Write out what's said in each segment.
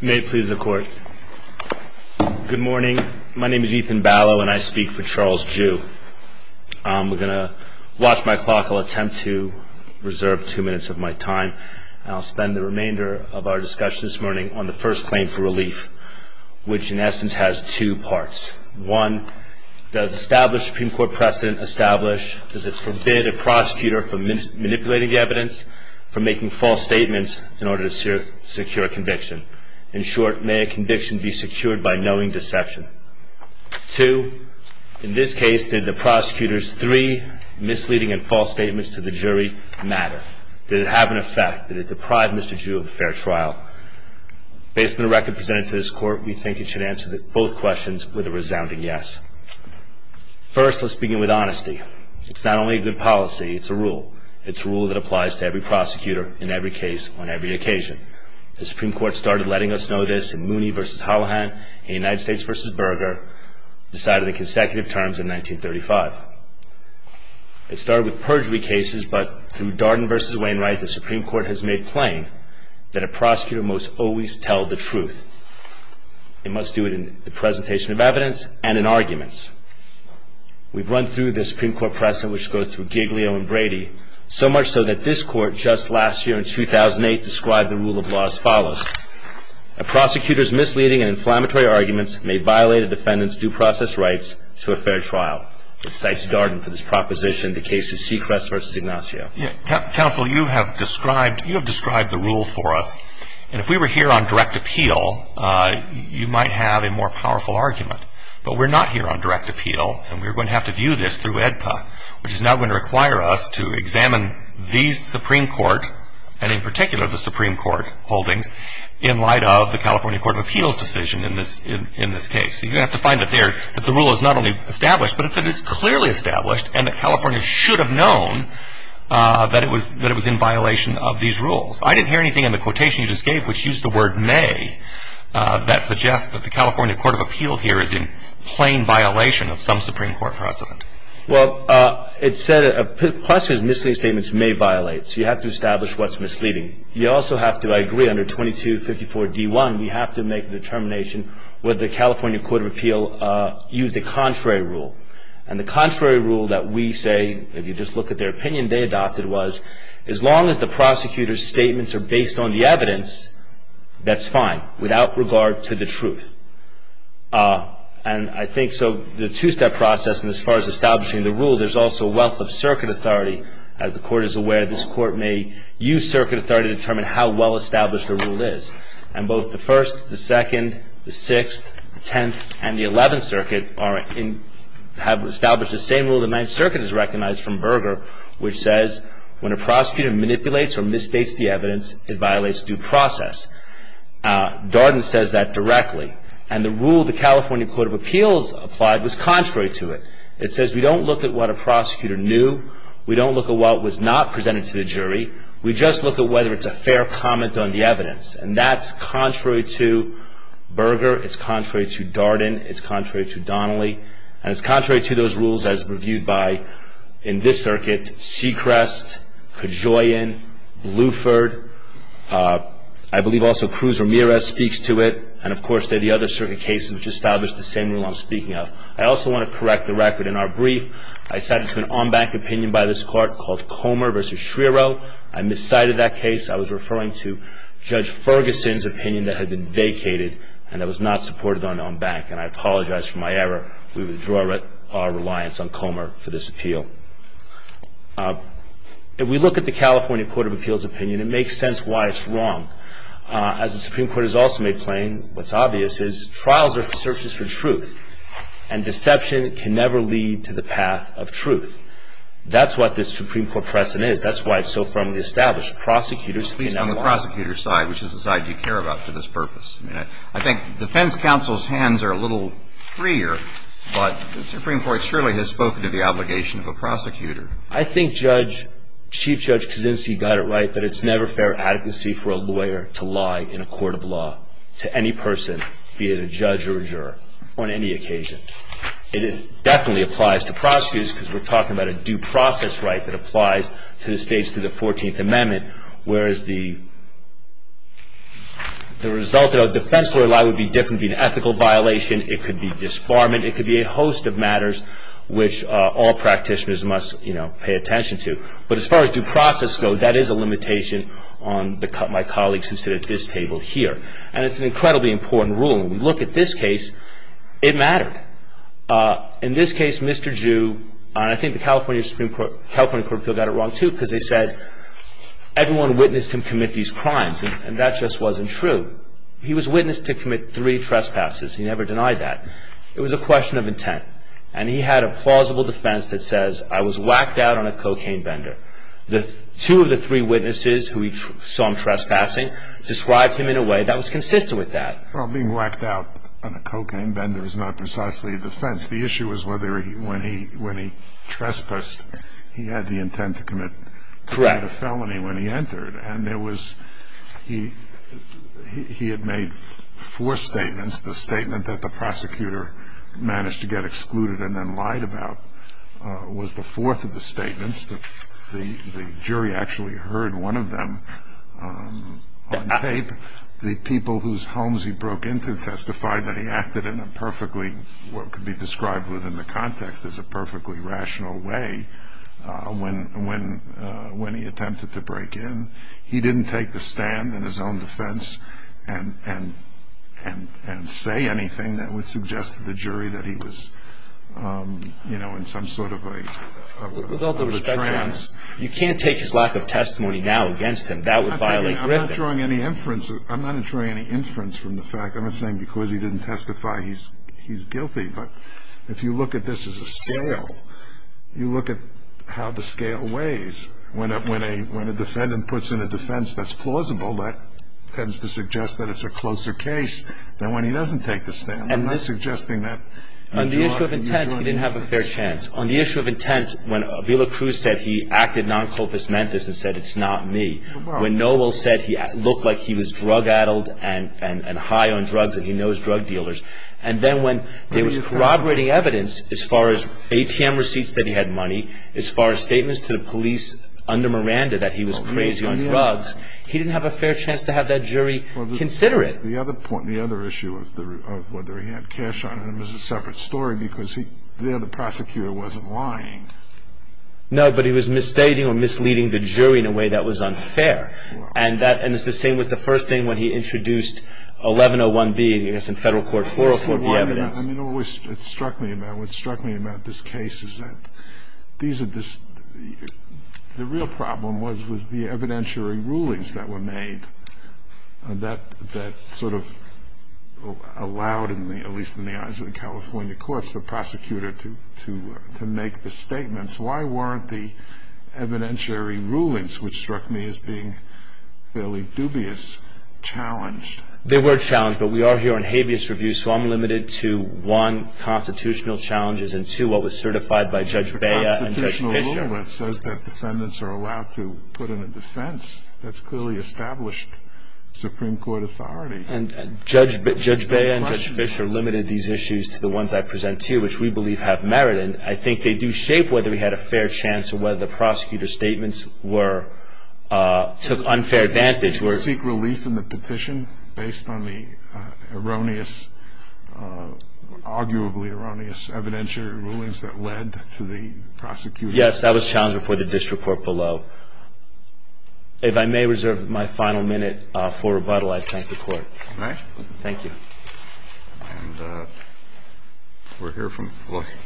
May it please the court, good morning, my name is Ethan Ballow and I speak for Charles Joo. We're going to watch my clock, I'll attempt to reserve two minutes of my time and I'll spend the remainder of our discussion this morning on the first claim for relief, which in essence has two parts. One, does established Supreme Court precedent establish, does it forbid a prosecutor from manipulating the evidence, from making false statements in order to secure a conviction? In short, may a conviction be secured by knowing deception? Two, in this case, did the prosecutor's three misleading and false statements to the jury matter? Did it have an effect? Did it deprive Mr. Joo of a fair trial? Based on the record presented to this court, we think it should answer both questions with a resounding yes. First, let's begin with honesty. It's not only a good policy, it's a rule. It's a rule that applies to every prosecutor, in every case, on every occasion. The Supreme Court started letting us know this in Mooney v. Hollihan, in United States v. Berger, decided in consecutive terms in 1935. It started with perjury cases, but through Darden v. Wainwright, the Supreme Court has made plain that a prosecutor must always tell the truth. They must do it in the presentation of evidence and in arguments. We've run through the Supreme Court precedent, which goes through Giglio and Brady, so much so that this court, just last year in 2008, described the rule of law as follows. A prosecutor's misleading and inflammatory arguments may violate a defendant's due process rights to a fair trial. It cites Darden for this proposition in the case of Sechrest v. Ignacio. Counsel, you have described the rule for us. And if we were here on direct appeal, you might have a more powerful argument. But we're not here on direct appeal, and we're going to have to view this through AEDPA, which is now going to require us to examine these Supreme Court, and in particular the Supreme Court holdings, in light of the California Court of Appeals decision in this case. You're going to have to find that there, that the rule is not only established, but that it is clearly established and that California should have known that it was in violation of these rules. I didn't hear anything in the quotation you just gave, which used the word may, that suggests that the California Court of Appeals here is in plain violation of some Supreme Court precedent. Well, it said a prosecutor's misleading statements may violate. So you have to establish what's misleading. You also have to, I agree, under 2254D1, you have to make a determination whether the California Court of Appeals used a contrary rule. And the contrary rule that we say, if you just look at their opinion they adopted, was as long as the prosecutor's statements are based on the evidence, that's fine, without regard to the truth. And I think so, the two-step process, and as far as establishing the rule, there's also a wealth of circuit authority. As the Court is aware, this Court may use circuit authority to determine how well established the rule is. And both the First, the Second, the Sixth, the Tenth, and the Eleventh Circuit are in, have established the same rule the Ninth Circuit has recognized from Berger, which says when a prosecutor manipulates or misstates the evidence, it violates due process. Darden says that directly. And the rule the California Court of Appeals applied was contrary to it. It says we don't look at what a prosecutor knew. We don't look at what was not presented to the jury. We just look at whether it's a fair comment on the evidence. And that's contrary to Berger. It's contrary to Darden. It's contrary to Donnelly. And it's contrary to those rules as reviewed by, in this circuit, Sechrest, Kajoyan, Bluford. I believe also Cruz-Ramirez speaks to it. And, of course, there are the other circuit cases which establish the same rule I'm speaking of. I also want to correct the record in our brief. I said it's an en banc opinion by this Court called Comer v. Schrierow. I miscited that case. I was referring to Judge Ferguson's opinion that had been vacated and that was not supported on en banc. And I apologize for my error. We withdraw our reliance on Comer for this appeal. If we look at the California Court of Appeals opinion, it makes sense why it's wrong. As the Supreme Court has also made plain, what's obvious is trials are searches for truth. And deception can never lead to the path of truth. That's what this Supreme Court precedent is. That's why it's so firmly established. Prosecutors, you know. At least on the prosecutor's side, which is the side you care about for this purpose. I mean, I think defense counsel's hands are a little freer. But the Supreme Court surely has spoken to the obligation of a prosecutor. I think Judge, Chief Judge Kuczynski got it right that it's never fair adequacy for a lawyer to lie in a court of law to any person, be it a judge or a juror, on any occasion. And it definitely applies to prosecutors because we're talking about a due process right that applies to the states through the 14th Amendment. Whereas the result of a defense lawyer lie would be different. It would be an ethical violation. It could be disbarment. It could be a host of matters which all practitioners must, you know, pay attention to. But as far as due process goes, that is a limitation on my colleagues who sit at this table here. And it's an incredibly important rule. And when you look at this case, it mattered. In this case, Mr. Ju, and I think the California Supreme Court, California Court of Appeals got it wrong too because they said everyone witnessed him commit these crimes. And that just wasn't true. He was witnessed to commit three trespasses. He never denied that. It was a question of intent. And he had a plausible defense that says, I was whacked out on a cocaine bender. Two of the three witnesses who he saw him trespassing described him in a way that was consistent with that. Well, being whacked out on a cocaine bender is not precisely a defense. The issue was whether when he trespassed, he had the intent to commit a felony when he entered. And there was he had made four statements. The statement that the prosecutor managed to get excluded and then lied about was the fourth of the statements. The jury actually heard one of them on tape. The people whose homes he broke into testified that he acted in a perfectly, what could be described within the context as a perfectly rational way when he attempted to break in. He didn't take the stand in his own defense and say anything that would suggest to the jury that he was in some sort of a trance. You can't take his lack of testimony now against him. That would violate Griffin. I'm not drawing any inference. I'm not drawing any inference from the fact. I'm not saying because he didn't testify, he's guilty. But if you look at this as a scale, you look at how the scale weighs. When a defendant puts in a defense that's plausible, that tends to suggest that it's a closer case than when he doesn't take the stand. I'm not suggesting that. On the issue of intent, he didn't have a fair chance. On the issue of intent, when Avila Cruz said he acted non culpis mentis and said it's not me, when Noble said he looked like he was drug addled and high on drugs and he knows drug dealers, and then when there was corroborating evidence as far as ATM receipts that he had money, as far as statements to the police under Miranda that he was crazy on drugs, he didn't have a fair chance to have that jury consider it. The other issue of whether he had cash on him is a separate story because there the prosecutor wasn't lying. No, but he was misstating or misleading the jury in a way that was unfair. Wow. And it's the same with the first thing when he introduced 1101B, I guess in Federal Court 404, the evidence. I mean, what struck me about this case is that the real problem was with the evidentiary rulings that were made that sort of allowed, at least in the eyes of the California courts, the prosecutor to make the statements. Why weren't the evidentiary rulings, which struck me as being fairly dubious, challenged? They were challenged, but we are here on habeas review, so I'm limited to one, constitutional challenges, and two, what was certified by Judge Bea and Judge Fischer. It says that defendants are allowed to put in a defense. That's clearly established Supreme Court authority. And Judge Bea and Judge Fischer limited these issues to the ones I present to you, which we believe have merit, and I think they do shape whether he had a fair chance or whether the prosecutor's statements took unfair advantage. I would seek relief in the petition based on the erroneous, arguably erroneous evidentiary rulings that led to the prosecution. Yes, that was challenged before the district court below. If I may reserve my final minute for rebuttal, I thank the Court. May I? Thank you. And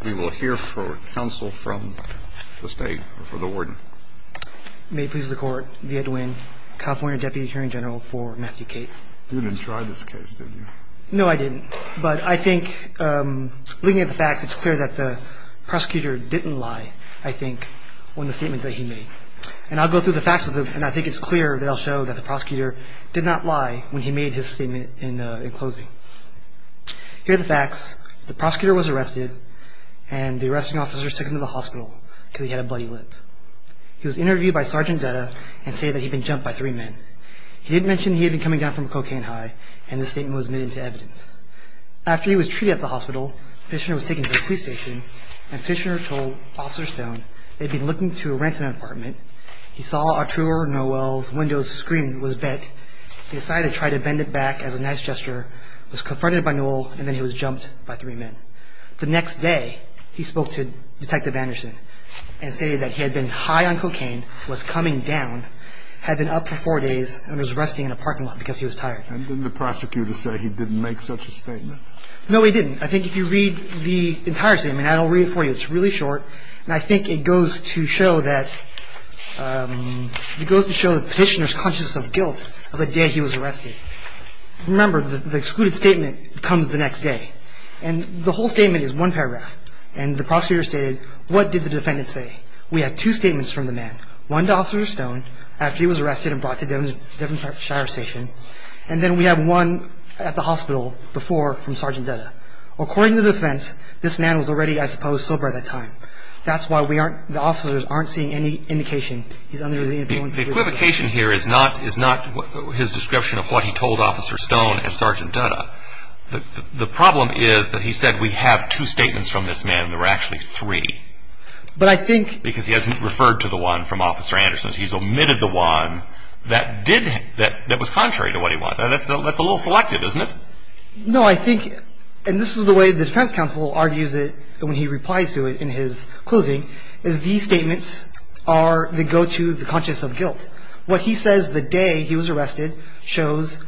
we will hear for counsel from the State, or for the Warden. May it please the Court, Bea Dwin, California Deputy Attorney General for Matthew Cate. You didn't try this case, did you? No, I didn't. But I think, looking at the facts, it's clear that the prosecutor didn't lie, I think, on the statements that he made. And I'll go through the facts, and I think it's clear that I'll show that the prosecutor did not lie when he made his statement in closing. Here are the facts. The prosecutor was arrested, and the arresting officers took him to the hospital because he had a bloody lip. He was interviewed by Sergeant Dutta and stated that he'd been jumped by three men. He did mention he had been coming down from a cocaine high, and this statement was made into evidence. After he was treated at the hospital, Fishner was taken to the police station, and Fishner told Officer Stone they'd been looking through a rent-in apartment. He saw Arturo Noel's window screen was bent. He decided to try to bend it back as a nice gesture, was confronted by Noel, and then he was jumped by three men. The next day, he spoke to Detective Anderson and stated that he had been high on cocaine, was coming down, had been up for four days, and was resting in a parking lot because he was tired. And didn't the prosecutor say he didn't make such a statement? No, he didn't. I think if you read the entire statement, and I'll read it for you, it's really short, and I think it goes to show that Petitioner's conscious of guilt of the day he was arrested. Remember, the excluded statement comes the next day, and the whole statement is one paragraph. And the prosecutor stated, what did the defendant say? We have two statements from the man. One to Officer Stone, after he was arrested and brought to Devon Shire Station, and then we have one at the hospital before from Sergeant Dutta. According to the defense, this man was already, I suppose, sober at that time. That's why the officers aren't seeing any indication he's under the influence of drugs. The equivocation here is not his description of what he told Officer Stone and Sergeant Dutta. The problem is that he said we have two statements from this man, and there were actually three. But I think... Because he hasn't referred to the one from Officer Anderson. He's omitted the one that was contrary to what he wanted. That's a little selective, isn't it? No. I think, and this is the way the defense counsel argues it when he replies to it in his closing, is these statements are the go-to, the conscious of guilt. What he says the day he was arrested shows,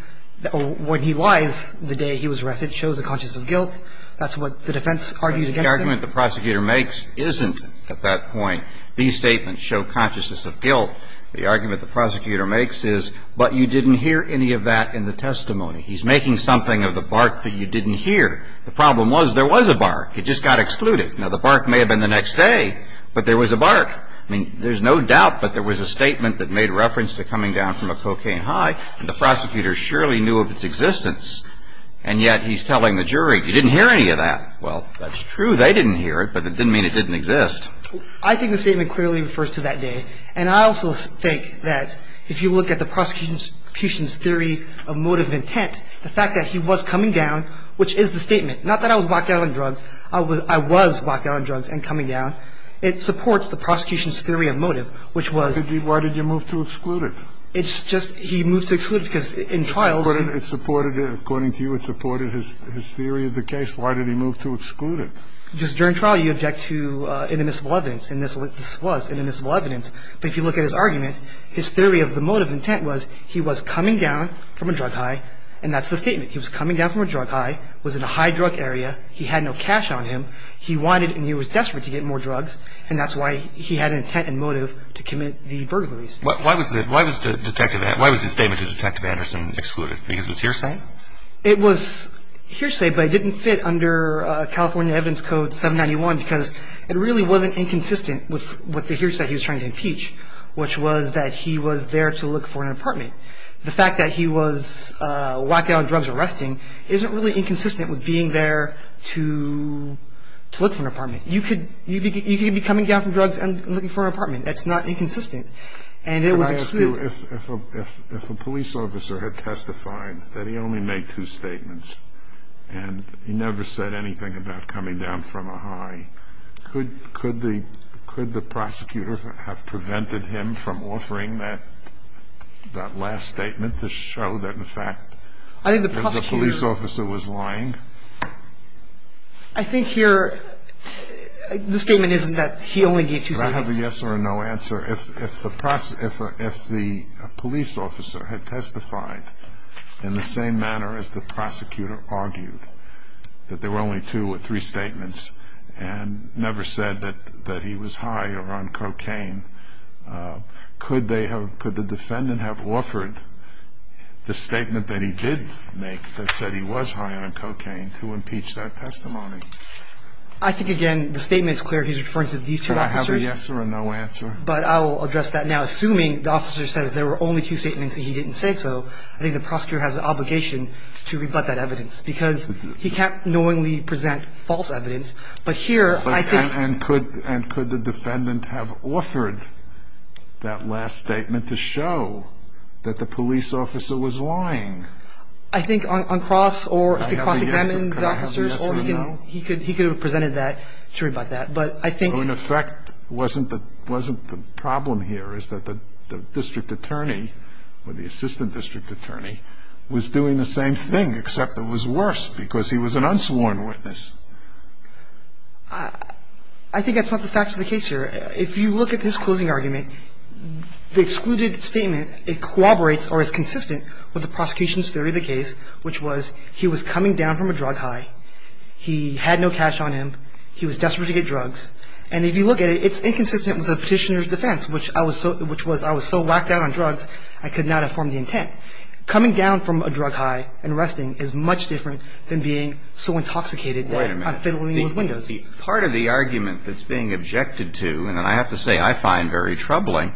when he lies the day he was arrested, shows a conscious of guilt. That's what the defense argued against him. The argument the prosecutor makes isn't at that point, these statements show consciousness of guilt. The argument the prosecutor makes is, but you didn't hear any of that in the testimony. He's making something of the bark that you didn't hear. The problem was there was a bark. It just got excluded. Now, the bark may have been the next day, but there was a bark. I mean, there's no doubt, but there was a statement that made reference to coming down from a cocaine high, and the prosecutor surely knew of its existence. And yet he's telling the jury, you didn't hear any of that. Well, that's true. They didn't hear it, but it didn't mean it didn't exist. I think the statement clearly refers to that day. And I also think that if you look at the prosecution's theory of motive and intent, the fact that he was coming down, which is the statement, not that I was locked down on drugs. I was locked down on drugs and coming down. It supports the prosecution's theory of motive, which was. Why did you move to exclude it? It's just he moved to exclude it because in trials. According to you, it supported his theory of the case. Why did he move to exclude it? Just during trial, you object to inadmissible evidence. And this was inadmissible evidence. But if you look at his argument, his theory of the motive intent was he was coming down from a drug high, and that's the statement. He was coming down from a drug high, was in a high drug area. He had no cash on him. He wanted and he was desperate to get more drugs, and that's why he had an intent and motive to commit the burglaries. Why was the statement to Detective Anderson excluded? Because it was hearsay? It was hearsay, but it didn't fit under California Evidence Code 791, because it really wasn't inconsistent with the hearsay he was trying to impeach, which was that he was there to look for an apartment. The fact that he was locked down on drugs and resting isn't really inconsistent with being there to look for an apartment. You could be coming down from drugs and looking for an apartment. That's not inconsistent. And it was excluded. If a police officer had testified that he only made two statements and he never said anything about coming down from a high, could the prosecutor have prevented him from offering that last statement to show that, in fact, the police officer was lying? I think here the statement isn't that he only gave two statements. Could I have a yes or a no answer if the police officer had testified in the same manner as the prosecutor argued, that there were only two or three statements and never said that he was high or on cocaine? Could the defendant have offered the statement that he did make that said he was high on cocaine to impeach that testimony? I think, again, the statement is clear. He's referring to these two officers. Could I have a yes or a no answer? But I will address that now. Assuming the officer says there were only two statements and he didn't say so, I think the prosecutor has an obligation to rebut that evidence because he can't knowingly present false evidence. But here I think he could. And could the defendant have offered that last statement to show that the police I think on cross or cross-examining the officers. Could I have a yes or no? He could have presented that to rebut that. But I think In effect, wasn't the problem here is that the district attorney or the assistant district attorney was doing the same thing except it was worse because he was an unsworn witness. I think that's not the facts of the case here. If you look at his closing argument, the excluded statement, it corroborates or is consistent with the prosecution's theory of the case, which was he was coming down from a drug high. He had no cash on him. He was desperate to get drugs. And if you look at it, it's inconsistent with the petitioner's defense, which I was so whacked down on drugs I could not have formed the intent. Coming down from a drug high and arresting is much different than being so intoxicated that I'm fiddling with windows. Wait a minute. Part of the argument that's being objected to, and I have to say I find very troubling,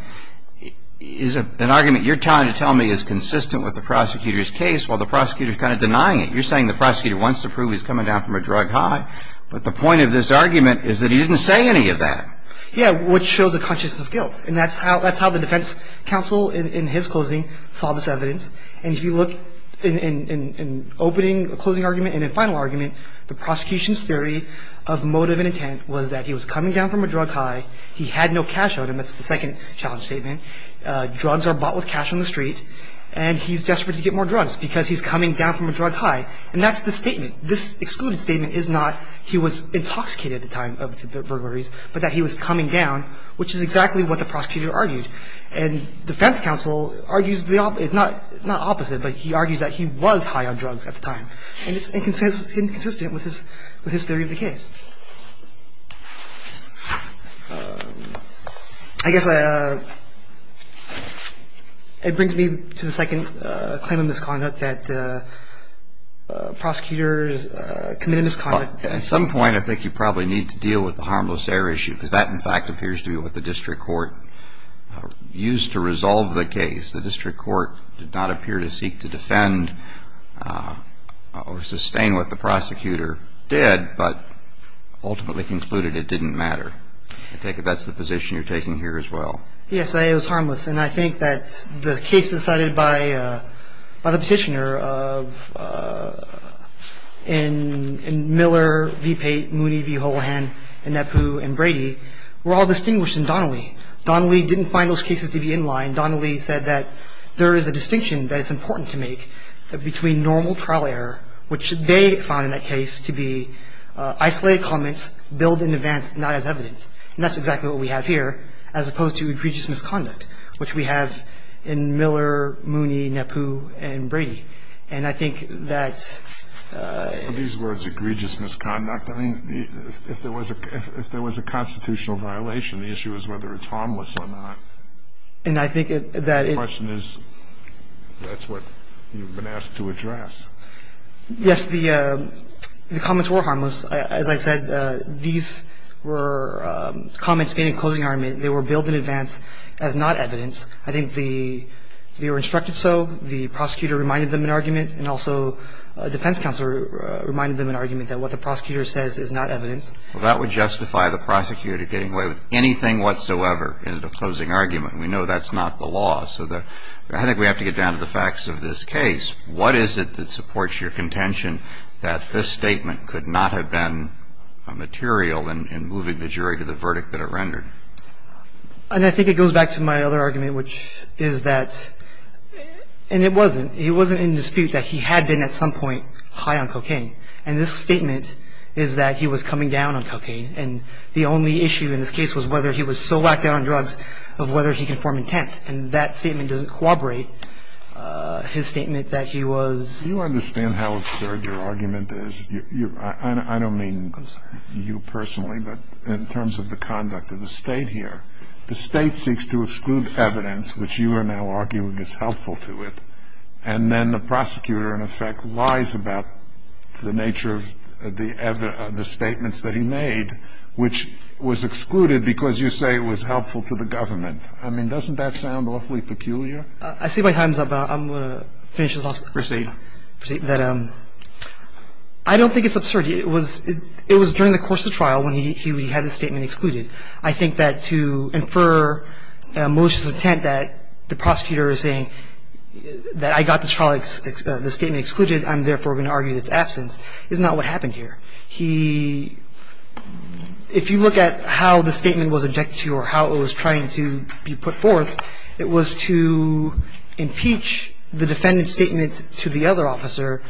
is an argument you're trying to tell me is consistent with the prosecutor's case while the prosecutor's kind of denying it. You're saying the prosecutor wants to prove he's coming down from a drug high. But the point of this argument is that he didn't say any of that. Yeah, which shows a consciousness of guilt. And that's how the defense counsel in his closing saw this evidence. And if you look in opening closing argument and in final argument, the prosecution's theory of motive and intent was that he was coming down from a drug high. He had no cash on him. That's the second challenge statement. Drugs are bought with cash on the street. And he's desperate to get more drugs because he's coming down from a drug high. And that's the statement. This excluded statement is not he was intoxicated at the time of the burglaries, but that he was coming down, which is exactly what the prosecutor argued. And defense counsel argues the opposite, not opposite, but he argues that he was high on drugs at the time. And it's inconsistent with his theory of the case. I guess it brings me to the second claim in this conduct that prosecutors committed misconduct. At some point, I think you probably need to deal with the harmless error issue because that, in fact, appears to be what the district court used to resolve the case. The district court did not appear to seek to defend or sustain what the prosecutor did. I think that's the position you're taking here as well. Yes. It was harmless. And I think that the cases cited by the Petitioner in Miller v. Pate, Mooney v. Holohan, and Nepu v. Brady were all distinguished in Donnelly. Donnelly didn't find those cases to be in line. Donnelly said that there is a distinction that is important to make between normal trial error, which they found in that case to be harmless error, and isolated comments, billed in advance, not as evidence. And that's exactly what we have here, as opposed to egregious misconduct, which we have in Miller, Mooney, Nepu, and Brady. And I think that these words, egregious misconduct, I mean, if there was a constitutional violation, the issue is whether it's harmless or not. And I think that the question is that's what you've been asked to address. Yes. The comments were harmless. As I said, these were comments made in closing argument. They were billed in advance as not evidence. I think they were instructed so. The prosecutor reminded them in argument, and also a defense counselor reminded them in argument that what the prosecutor says is not evidence. Well, that would justify the prosecutor getting away with anything whatsoever in a closing argument. We know that's not the law. So I think we have to get down to the facts of this case. What is it that supports your contention that this statement could not have been material in moving the jury to the verdict that it rendered? And I think it goes back to my other argument, which is that, and it wasn't. It wasn't in dispute that he had been at some point high on cocaine. And this statement is that he was coming down on cocaine. And the only issue in this case was whether he was so whacked down on drugs of whether he can form intent. And that statement doesn't corroborate his statement that he was. Do you understand how absurd your argument is? I don't mean you personally, but in terms of the conduct of the State here. The State seeks to exclude evidence, which you are now arguing is helpful to it. And then the prosecutor, in effect, lies about the nature of the statements that he made, which was excluded because you say it was helpful to the government. I mean, doesn't that sound awfully peculiar? I see my time's up. I'm going to finish this off. Proceed. Proceed. I don't think it's absurd. It was during the course of the trial when he had the statement excluded. I think that to infer malicious intent that the prosecutor is saying that I got the statement excluded, I'm therefore going to argue its absence, is not what happened here. He – if you look at how the statement was objected to or how it was trying to be put forth, it was to impeach the defendant's statement to the other officer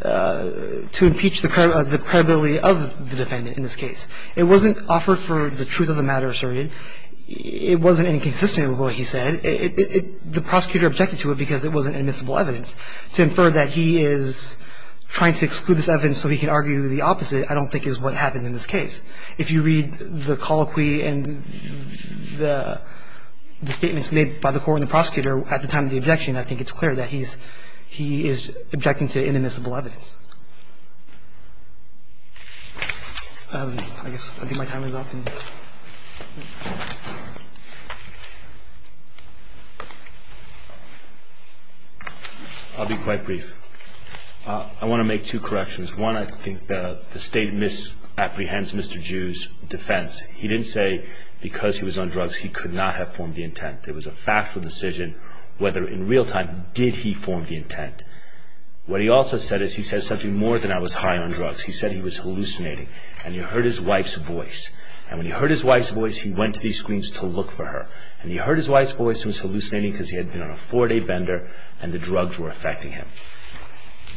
to impeach the credibility of the defendant in this case. It wasn't offered for the truth of the matter asserted. It wasn't inconsistent with what he said. The prosecutor objected to it because it wasn't admissible evidence. To infer that he is trying to exclude this evidence so he can argue the opposite I don't think is what happened in this case. If you read the colloquy and the statements made by the court and the prosecutor at the time of the objection, I think it's clear that he's – he is objecting to inadmissible evidence. I guess I think my time is up. I'll be quite brief. I want to make two corrections. One, I think the statement apprehends Mr. Jew's defense. He didn't say because he was on drugs he could not have formed the intent. It was a factual decision whether in real time did he form the intent. What he also said is he said something more than I was high on drugs. He said he was hallucinating and he heard his wife's voice. And when he heard his wife's voice, he went to these screens to look for her. And he heard his wife's voice and was hallucinating because he had been on a four-day bender and the drugs were affecting him.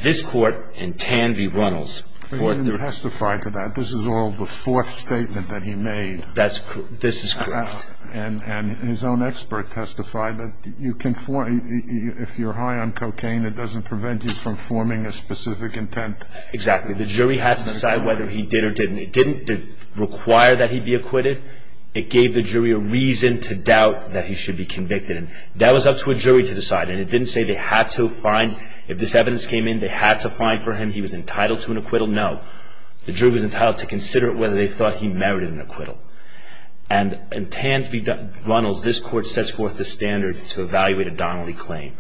This court and Tanvi Runnels. He didn't testify to that. This is all the fourth statement that he made. This is correct. And his own expert testified that you can – if you're high on cocaine, it doesn't prevent you from forming a specific intent. Exactly. The jury had to decide whether he did or didn't. It didn't require that he be acquitted. It gave the jury a reason to doubt that he should be convicted. And that was up to a jury to decide. And it didn't say they had to find – if this evidence came in, they had to find for him he was entitled to an acquittal. No. The jury was entitled to consider whether they thought he merited an acquittal. And in Tanvi Runnels, this court sets forth the standard to evaluate a Donnelly claim.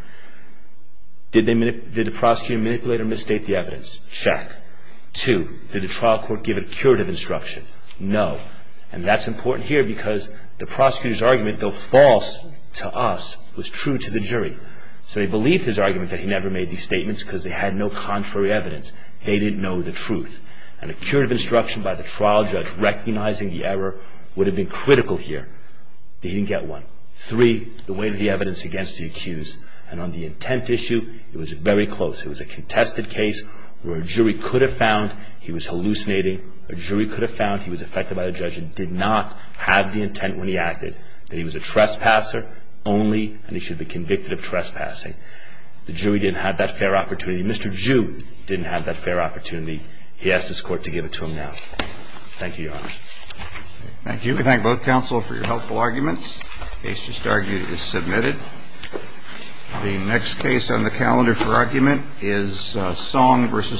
Did the prosecutor manipulate or misstate the evidence? Check. Two, did the trial court give a curative instruction? No. And that's important here because the prosecutor's argument, though false to us, was true to the jury. So they believed his argument that he never made these statements because they had no contrary evidence. They didn't know the truth. And a curative instruction by the trial judge recognizing the error would have been critical here. They didn't get one. Three, the weight of the evidence against the accused. And on the intent issue, it was very close. It was a contested case where a jury could have found he was hallucinating. A jury could have found he was affected by the judge and did not have the intent when he acted, that he was a trespasser only, and he should be convicted of trespassing. The jury didn't have that fair opportunity. Mr. Jew didn't have that fair opportunity. He asked this court to give it to him now. Thank you, Your Honor. Thank you. We thank both counsel for your helpful arguments. The case just argued is submitted. The next case on the calendar for argument is Song v. Holder. Thank you, Your Honor.